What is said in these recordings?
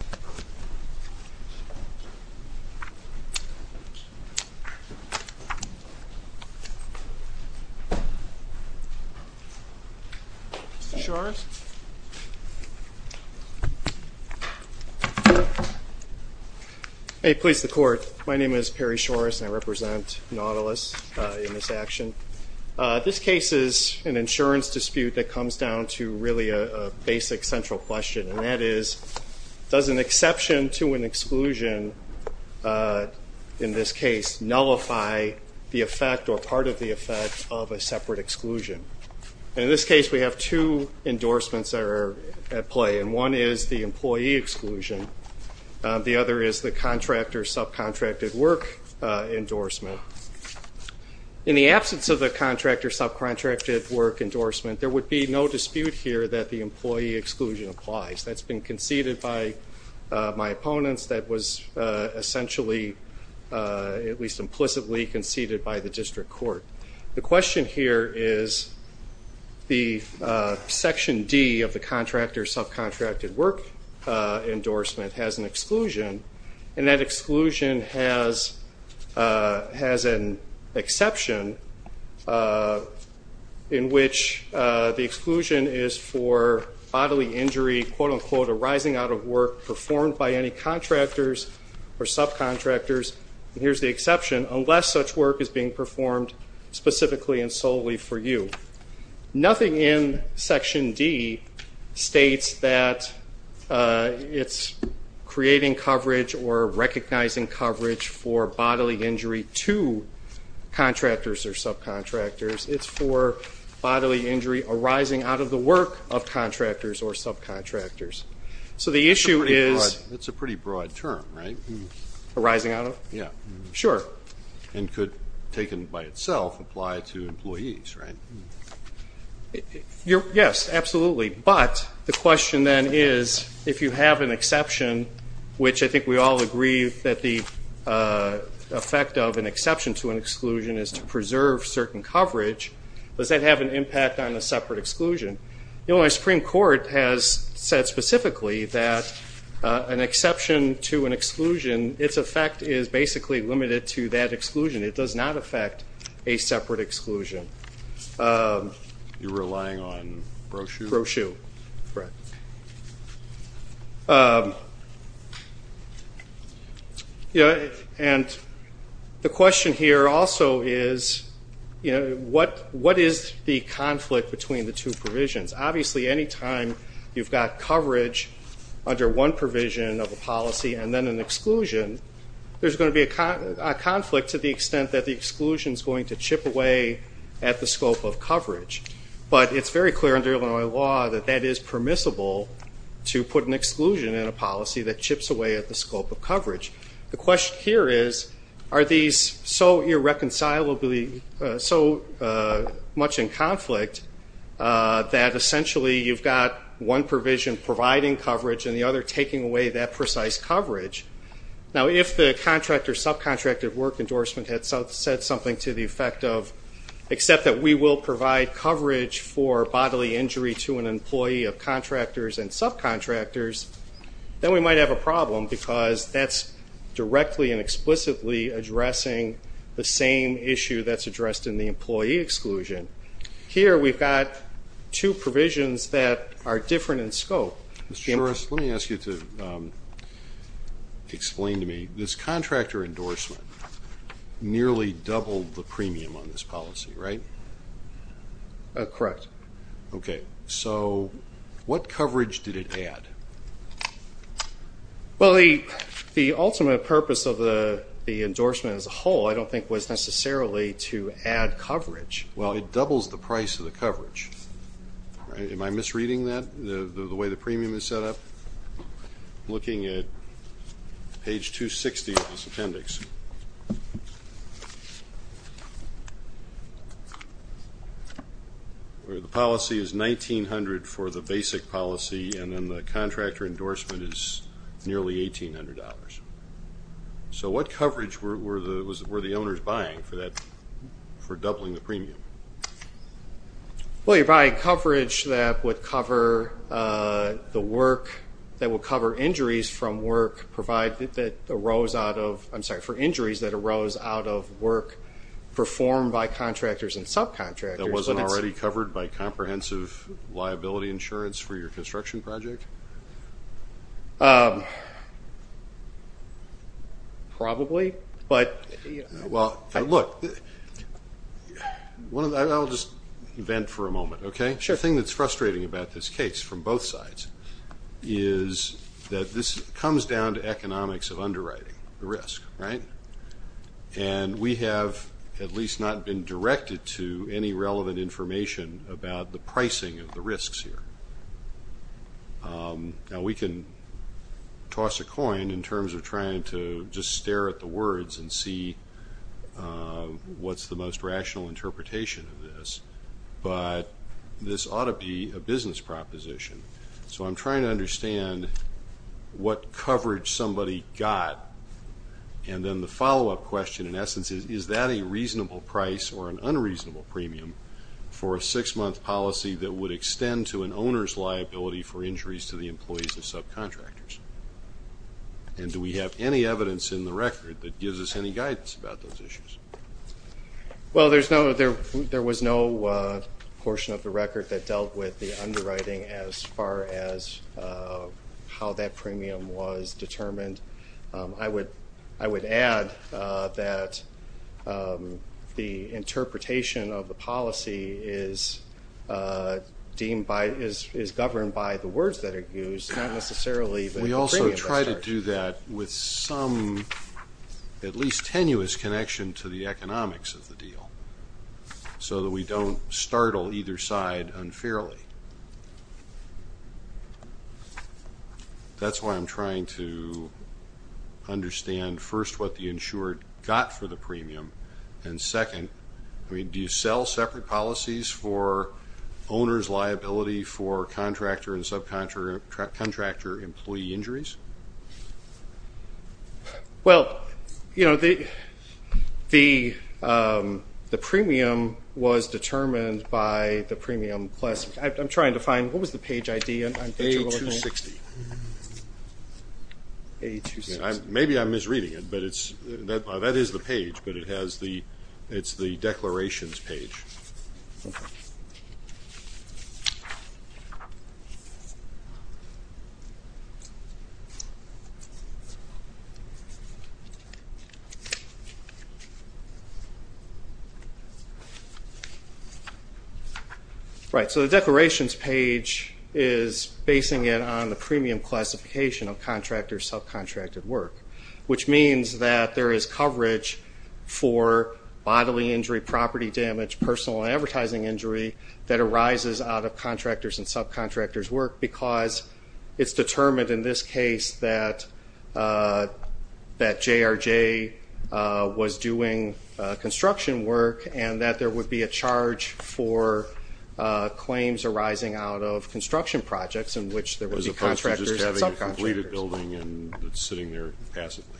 Perry Shorris, Nautilus Insurance Company Hey Police, the Court. My name is Perry Shorris and I represent Nautilus in this action. This case is an insurance dispute that comes down to really a basic central question and that is does an exception to an exclusion in this case nullify the effect or part of the effect of a separate exclusion. In this case we have two endorsements that are at play and one is the employee exclusion, the other is the contractor subcontracted work endorsement. In the absence of the contractor subcontracted work endorsement there would be no dispute here that the employee exclusion applies. That's been conceded by my opponents. That was essentially, at least implicitly, conceded by the District Court. The question here is the section D of the contractor subcontracted work endorsement has an exclusion and that exclusion has an exception in which the exclusion is for bodily injury, quote unquote, arising out of work performed by any contractors or subcontractors. Here's the exception, unless such work is being performed specifically and solely for you. Nothing in section D states that it's creating coverage or recognizing coverage for bodily injury to contractors or subcontractors. It's for bodily injury arising out of the work of contractors or subcontractors. So the issue is... It's a pretty broad term, right? Arising out of? Yeah. Sure. And could, taken by itself, apply to employees, right? Yes, absolutely. But the question then is if you have an exception, which I think we all agree that the effect of an exception to an exclusion is to preserve certain coverage, does that have an impact on a separate exclusion? The Illinois Supreme Court has said specifically that an exception to an exclusion, its effect is basically limited to that exclusion. It does not affect a separate exclusion. You're relying on brochure? Brochure, correct. And the question here also is what is the conflict between the two provisions? Obviously, any time you've got coverage under one provision of a policy and then an exclusion, there's going to be a conflict to the extent that the exclusion is going to chip away at the scope of coverage. But it's very clear under Illinois law that that is permissible to put an exclusion in a policy that chips away at the scope of coverage. The question here is, are these so irreconcilably, so much in conflict, that essentially you've got one provision providing coverage and the other taking away that precise coverage? Now, if the contractor, subcontractor work endorsement had said something to the effect of, except that we will provide coverage for bodily injury to an employee of contractors and subcontractors, then we might have a problem because that's directly and explicitly addressing the same issue that's addressed in the employee exclusion. Here we've got two provisions that are different in scope. Mr. Shorris, let me ask you to explain to me, this contractor endorsement nearly doubled the premium on this policy, right? Correct. Okay, so what coverage did it add? Well, the ultimate purpose of the endorsement as a whole I don't think was necessarily to add coverage. Well, it doubles the price of the coverage. Am I misreading that, the way the premium is set up? I'm looking at page 260 of this appendix, where the policy is $1,900 for the basic policy and then the contractor endorsement is nearly $1,800. So what coverage were the owners buying for doubling the premium? Well, you're buying coverage that would cover the work, that would cover injuries from work provided that arose out of, I'm sorry, for injuries that arose out of work performed by contractors and subcontractors. That wasn't already covered by comprehensive liability insurance for your construction project? Probably, but, you know. Look, I'll just vent for a moment, okay? Sure. The thing that's frustrating about this case from both sides is that this comes down to economics of underwriting, the risk, right? And we have at least not been directed to any relevant information about the pricing of the risks here. Now, we can toss a coin in terms of trying to just stare at the words and see what's the most rational interpretation of this, but this ought to be a business proposition. So I'm trying to understand what coverage somebody got, and then the follow-up question in essence is, is that a reasonable price or an unreasonable premium for a six-month policy that would extend to an owner's liability for injuries to the employees of subcontractors? And do we have any evidence in the record that gives us any guidance about those issues? Well, there was no portion of the record that dealt with the underwriting as far as how that premium was determined. I would add that the interpretation of the policy is governed by the words that are used, not necessarily the premium. We also try to do that with some at least tenuous connection to the economics of the deal so that we don't startle either side unfairly. That's why I'm trying to understand, first, what the insured got for the premium, and second, do you sell separate policies for owner's liability for contractor and subcontractor employee injuries? Well, you know, the premium was determined by the premium plus I'm trying to find, what was the page ID? A260. Maybe I'm misreading it, but that is the page, but it's the declarations page. Okay. Right, so the declarations page is basing it on the premium classification of contractor subcontracted work, which means that there is coverage for bodily injury, property damage, personal advertising injury that arises out of contractors and subcontractors' work because it's determined in this case that JRJ was doing construction work and that there would be a charge for claims arising out of construction projects in which there would be contractors and subcontractors.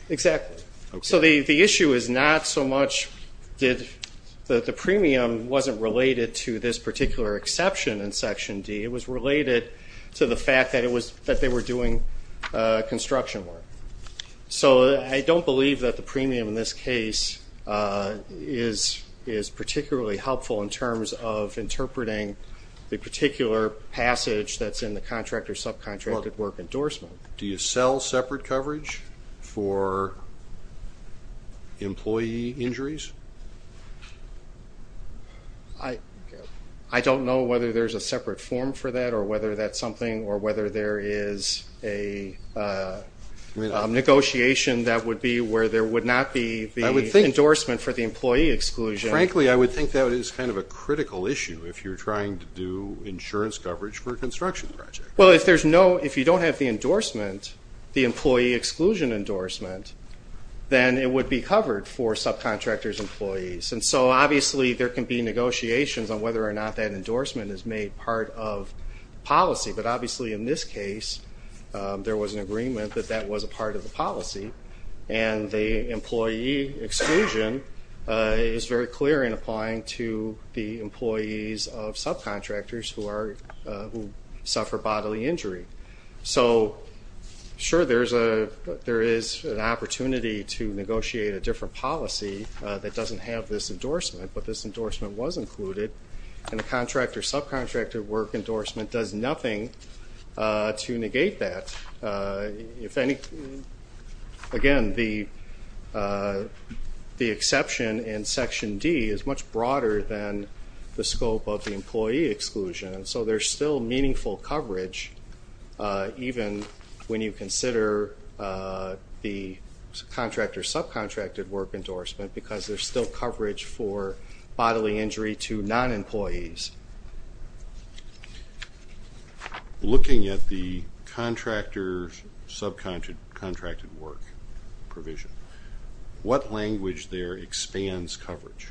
Exactly. So the issue is not so much that the premium wasn't related to this particular exception in Section D. It was related to the fact that they were doing construction work. So I don't believe that the premium in this case is particularly helpful in terms of interpreting the particular passage that's in the contractor subcontracted work endorsement. Do you sell separate coverage for employee injuries? I don't know whether there's a separate form for that or whether that's something or whether there is a negotiation that would be where there would not be the endorsement for the employee exclusion. Frankly, I would think that is kind of a critical issue if you're trying to do insurance coverage for a construction project. Well, if you don't have the endorsement, the employee exclusion endorsement, then it would be covered for subcontractors' employees. And so obviously there can be negotiations on whether or not that endorsement is made part of policy. But obviously in this case there was an agreement that that was a part of the policy. And the employee exclusion is very clear in applying to the employees of subcontractors who suffer bodily injury. So, sure, there is an opportunity to negotiate a different policy that doesn't have this endorsement, but this endorsement was included. And the contractor subcontractor work endorsement does nothing to negate that. Again, the exception in Section D is much broader than the scope of the employee exclusion, so there's still meaningful coverage even when you consider the contractor subcontractor work endorsement because there's still coverage for bodily injury to non-employees. Looking at the contractor subcontractor work provision, what language there expands coverage?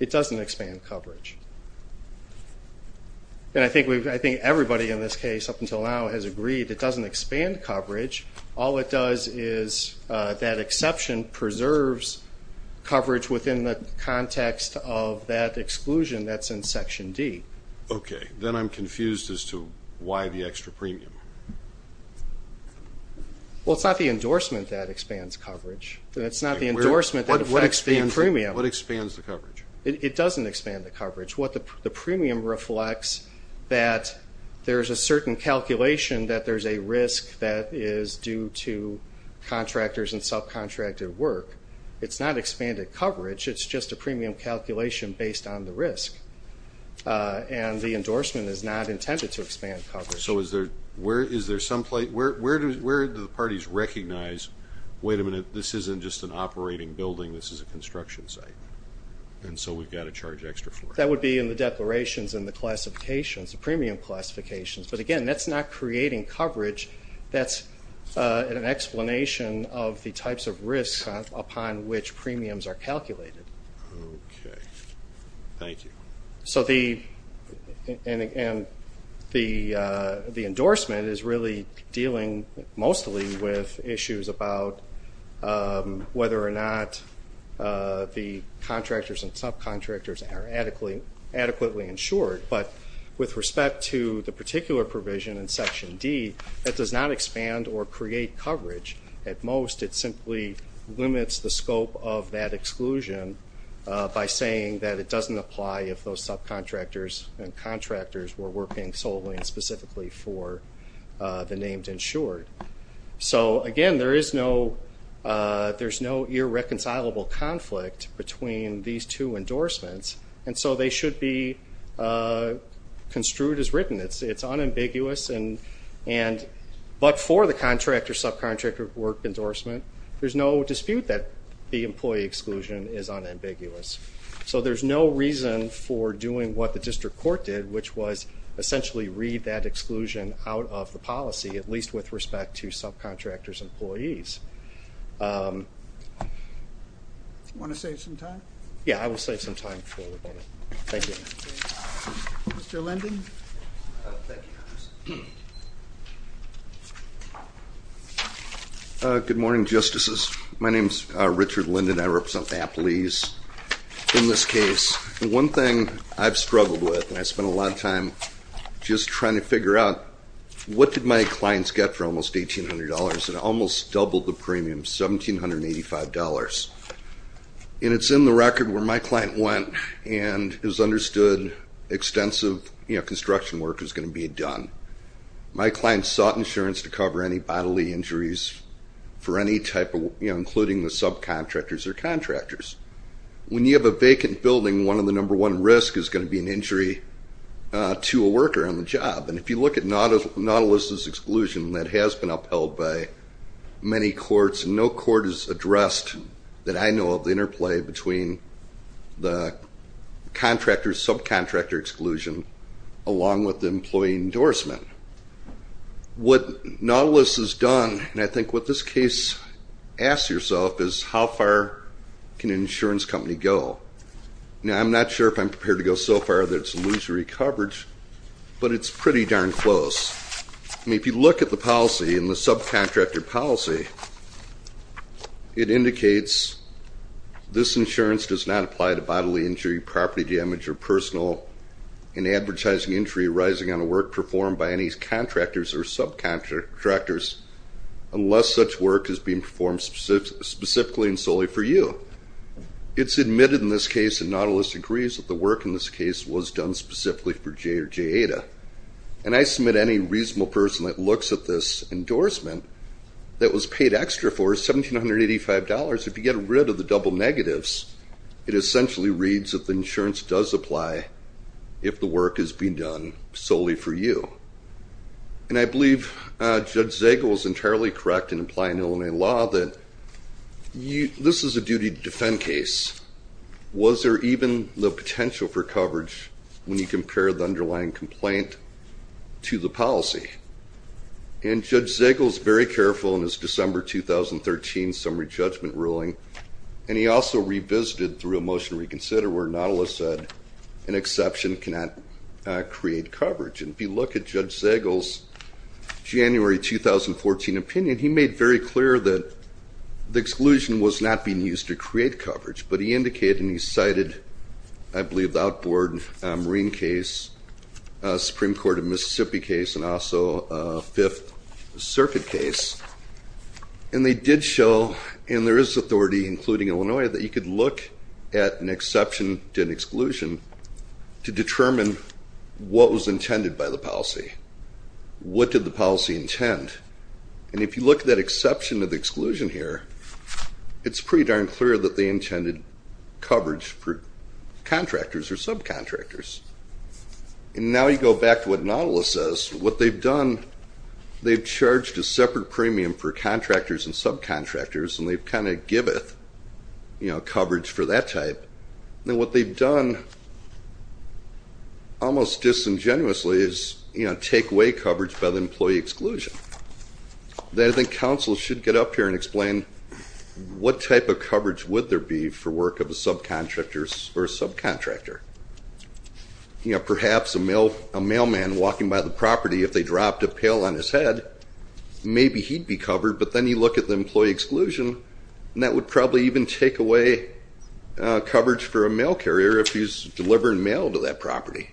It doesn't expand coverage. And I think everybody in this case up until now has agreed it doesn't expand coverage. All it does is that exception preserves coverage within the context of that exclusion that's in Section D. Okay. Then I'm confused as to why the extra premium. Well, it's not the endorsement that expands coverage. It's not the endorsement that affects the premium. It doesn't expand the coverage. What the premium reflects that there's a certain calculation that there's a risk that is due to contractors and subcontractor work. It's not expanded coverage. It's just a premium calculation based on the risk. And the endorsement is not intended to expand coverage. So where do the parties recognize, wait a minute, this isn't just an operating building, this is a construction site, and so we've got to charge extra for it? That would be in the declarations and the classifications, the premium classifications. But, again, that's not creating coverage. That's an explanation of the types of risks upon which premiums are calculated. Okay. Thank you. So the endorsement is really dealing mostly with issues about whether or not the contractors and subcontractors are adequately insured. But with respect to the particular provision in Section D, it does not expand or create coverage. At most, it simply limits the scope of that exclusion by saying that it doesn't apply if those subcontractors and contractors were working solely and specifically for the named insured. So, again, there is no irreconcilable conflict between these two endorsements, and so they should be construed as written. It's unambiguous, but for the contractor-subcontractor work endorsement, there's no dispute that the employee exclusion is unambiguous. So there's no reason for doing what the district court did, which was essentially read that exclusion out of the policy, at least with respect to subcontractors' employees. Want to save some time? Yeah, I will save some time before we go. Thank you. Mr. Linden? Good morning, Justices. My name is Richard Linden. I represent the appellees in this case. One thing I've struggled with, and I spent a lot of time just trying to figure out, what did my clients get for almost $1,800? It almost doubled the premium, $1,785. And it's in the record where my client went and has understood extensive construction work is going to be done. My client sought insurance to cover any bodily injuries for any type of, including the subcontractors or contractors. When you have a vacant building, one of the number one risks is going to be an injury to a worker on the job. And if you look at Nautilus' exclusion, that has been upheld by many courts, and no court has addressed, that I know of, the interplay between the contractor, subcontractor exclusion, along with the employee endorsement. What Nautilus has done, and I think what this case asks yourself, is how far can an insurance company go? Now, I'm not sure if I'm prepared to go so far that it's illusory coverage, but it's pretty darn close. I mean, if you look at the policy and the subcontractor policy, it indicates this insurance does not apply to bodily injury, property damage, or personal and advertising injury arising on a work performed by any contractors or subcontractors unless such work is being performed specifically and solely for you. It's admitted in this case, and Nautilus agrees, that the work in this case was done specifically for J or Jada. And I submit any reasonable person that looks at this endorsement that was paid extra for, $1,785, if you get rid of the double negatives, it essentially reads that the insurance does apply if the work is being done solely for you. And I believe Judge Zegel is entirely correct in applying Illinois law that this is a duty to defend case. Was there even the potential for coverage when you compare the underlying complaint to the policy? And Judge Zegel is very careful in his December 2013 summary judgment ruling, and he also revisited through a motion to reconsider where Nautilus said, an exception cannot create coverage. And if you look at Judge Zegel's January 2014 opinion, he made very clear that the exclusion was not being used to create coverage, but he indicated and he cited, I believe, the outboard Marine case, Supreme Court of Mississippi case, and also Fifth Circuit case. And they did show, and there is authority including Illinois, that you could look at an exception to an exclusion to determine what was intended by the policy. What did the policy intend? And if you look at that exception to the exclusion here, it's pretty darn clear that they intended coverage for contractors or subcontractors. And now you go back to what Nautilus says, what they've done, they've charged a separate premium for contractors and subcontractors, and they've kind of giveth, you know, coverage for that type. Now what they've done almost disingenuously is, you know, take away coverage by the employee exclusion. I think counsel should get up here and explain what type of coverage would there be for work of a subcontractor or subcontractor. You know, perhaps a mailman walking by the property, if they dropped a pail on his head, maybe he'd be covered, but then you look at the employee exclusion, and that would probably even take away coverage for a mail carrier if he's delivering mail to that property.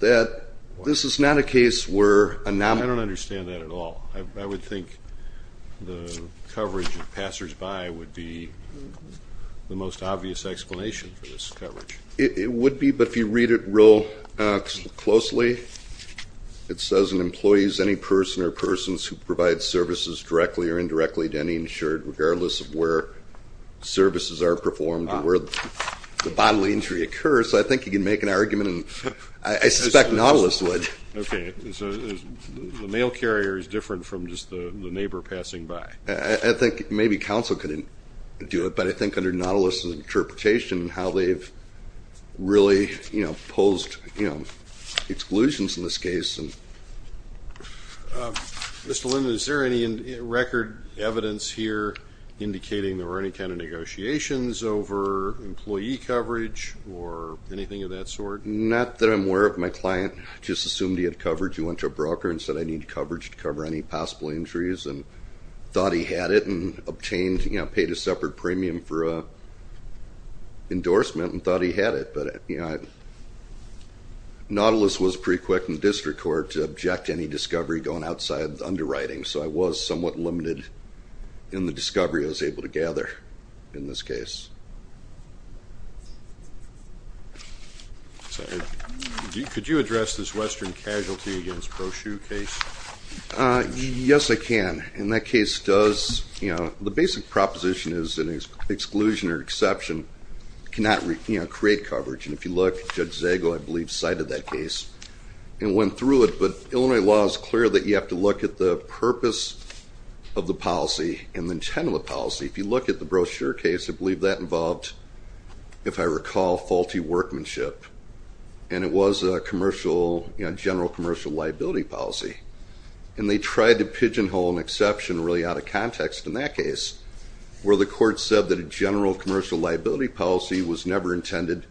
This is not a case where a nominal. I don't understand that at all. I would think the coverage of passersby would be the most obvious explanation for this coverage. It would be, but if you read it real closely, it says an employee is any person or persons who provides services directly or indirectly to any insured regardless of where services are performed or where the bodily injury occurs. I think you can make an argument, and I suspect Nautilus would. Okay. So the mail carrier is different from just the neighbor passing by. I think maybe counsel could do it, but I think under Nautilus' interpretation how they've really, you know, posed exclusions in this case. Mr. Linden, is there any record evidence here indicating there were any kind of negotiations over employee coverage or anything of that sort? Not that I'm aware of. My client just assumed he had coverage. He went to a broker and said, I need coverage to cover any possible injuries, and thought he had it and obtained, you know, paid a separate premium for an endorsement and thought he had it. But, you know, Nautilus was pretty quick in the district court to object to any discovery going outside the underwriting, so I was somewhat limited in the discovery I was able to gather in this case. Could you address this Western casualty against Proshue case? Yes, I can. And that case does, you know, the basic proposition is an exclusion or exception cannot, you know, create coverage. And if you look, Judge Zago, I believe, cited that case and went through it. But Illinois law is clear that you have to look at the purpose of the policy and the intent of the policy. If you look at the Proshue case, I believe that involved, if I recall, faulty workmanship. And it was a commercial, you know, general commercial liability policy. And they tried to pigeonhole an exception really out of context in that case where the court said that a general commercial liability policy was never intended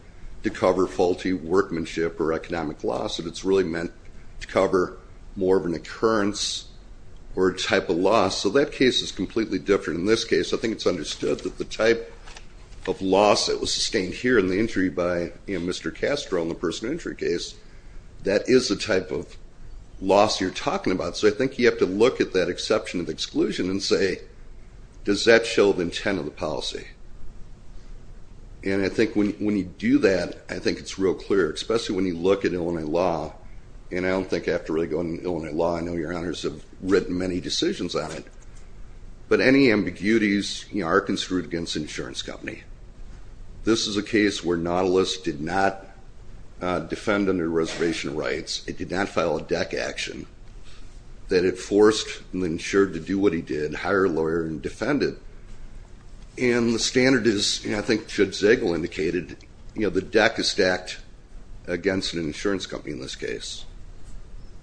to cover faulty workmanship or economic loss, that it's really meant to cover more of an occurrence or a type of loss. So that case is completely different in this case. I think it's understood that the type of loss that was sustained here in the injury by, you know, Mr. Castro in the personal injury case, that is the type of loss you're talking about. So I think you have to look at that exception of exclusion and say, does that show the intent of the policy? And I think when you do that, I think it's real clear, especially when you look at Illinois law, and I don't think I have to really go into Illinois law. I know your honors have written many decisions on it. But any ambiguities, you know, are construed against the insurance company. This is a case where Nautilus did not defend under reservation rights. It did not file a deck action. That it forced the insured to do what he did, hire a lawyer and defend it. And the standard is, I think Judge Zegel indicated, you know, the deck is stacked against an insurance company in this case.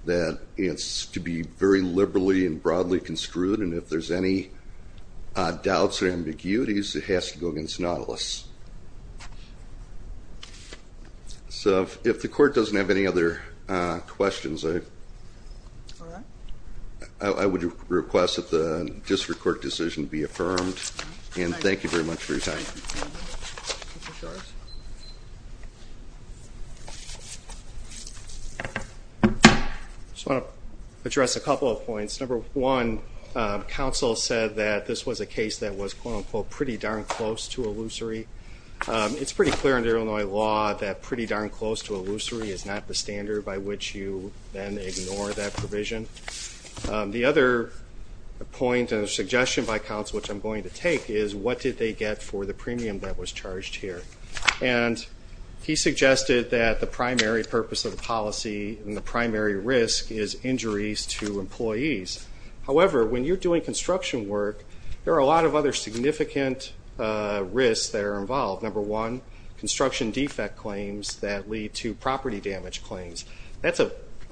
That it's to be very liberally and broadly construed, and if there's any doubts or ambiguities, it has to go against Nautilus. So if the court doesn't have any other questions, I would request that the district court decision be affirmed. And thank you very much for your time. I just want to address a couple of points. Number one, counsel said that this was a case that was, quote unquote, pretty darn close to illusory. It's pretty clear in Illinois law that pretty darn close to illusory is not the standard by which you then ignore that provision. The other point and suggestion by counsel, which I'm going to take, is what did they get for the premium that was charged here? And he suggested that the primary purpose of the policy and the primary risk is injuries to employees. However, when you're doing construction work, there are a lot of other significant risks that are involved. Number one, construction defect claims that lead to property damage claims. That's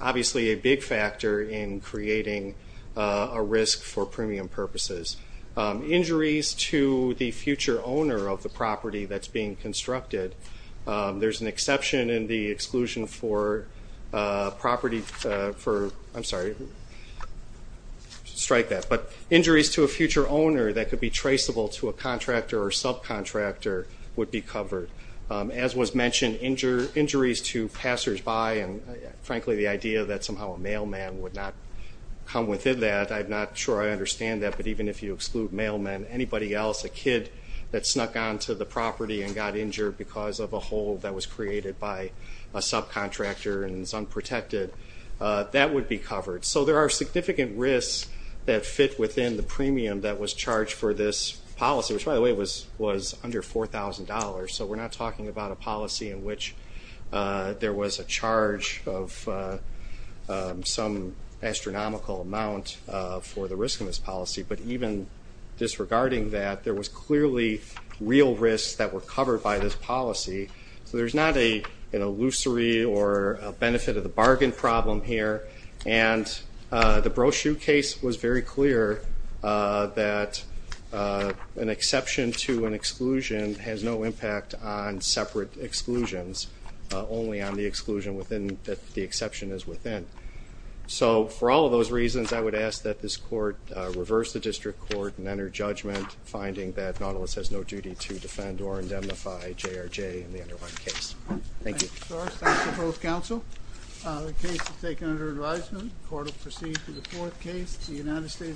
obviously a big factor in creating a risk for premium purposes. Injuries to the future owner of the property that's being constructed. There's an exception in the exclusion for property for – I'm sorry. Strike that. But injuries to a future owner that could be traceable to a contractor or subcontractor would be covered. As was mentioned, injuries to passersby and, frankly, the idea that somehow a mailman would not come within that. I'm not sure I understand that, but even if you exclude mailman, anybody else, a kid that snuck onto the property and got injured because of a hole that was created by a subcontractor and is unprotected, that would be covered. So there are significant risks that fit within the premium that was charged for this policy, which, by the way, was under $4,000. So we're not talking about a policy in which there was a charge of some astronomical amount for the risk in this policy, but even disregarding that, there was clearly real risks that were covered by this policy. So there's not an illusory or a benefit of the bargain problem here. And the brochure case was very clear that an exception to an exclusion has no impact on separate exclusions, only on the exclusion that the exception is within. So for all of those reasons, I would ask that this court reverse the district court and enter judgment, finding that Nautilus has no duty to defend or indemnify JRJ in the underlying case. Thank you. Thank you, sir. Thanks to both counsel. The case is taken under advisement. The court will proceed to the fourth case. The United States.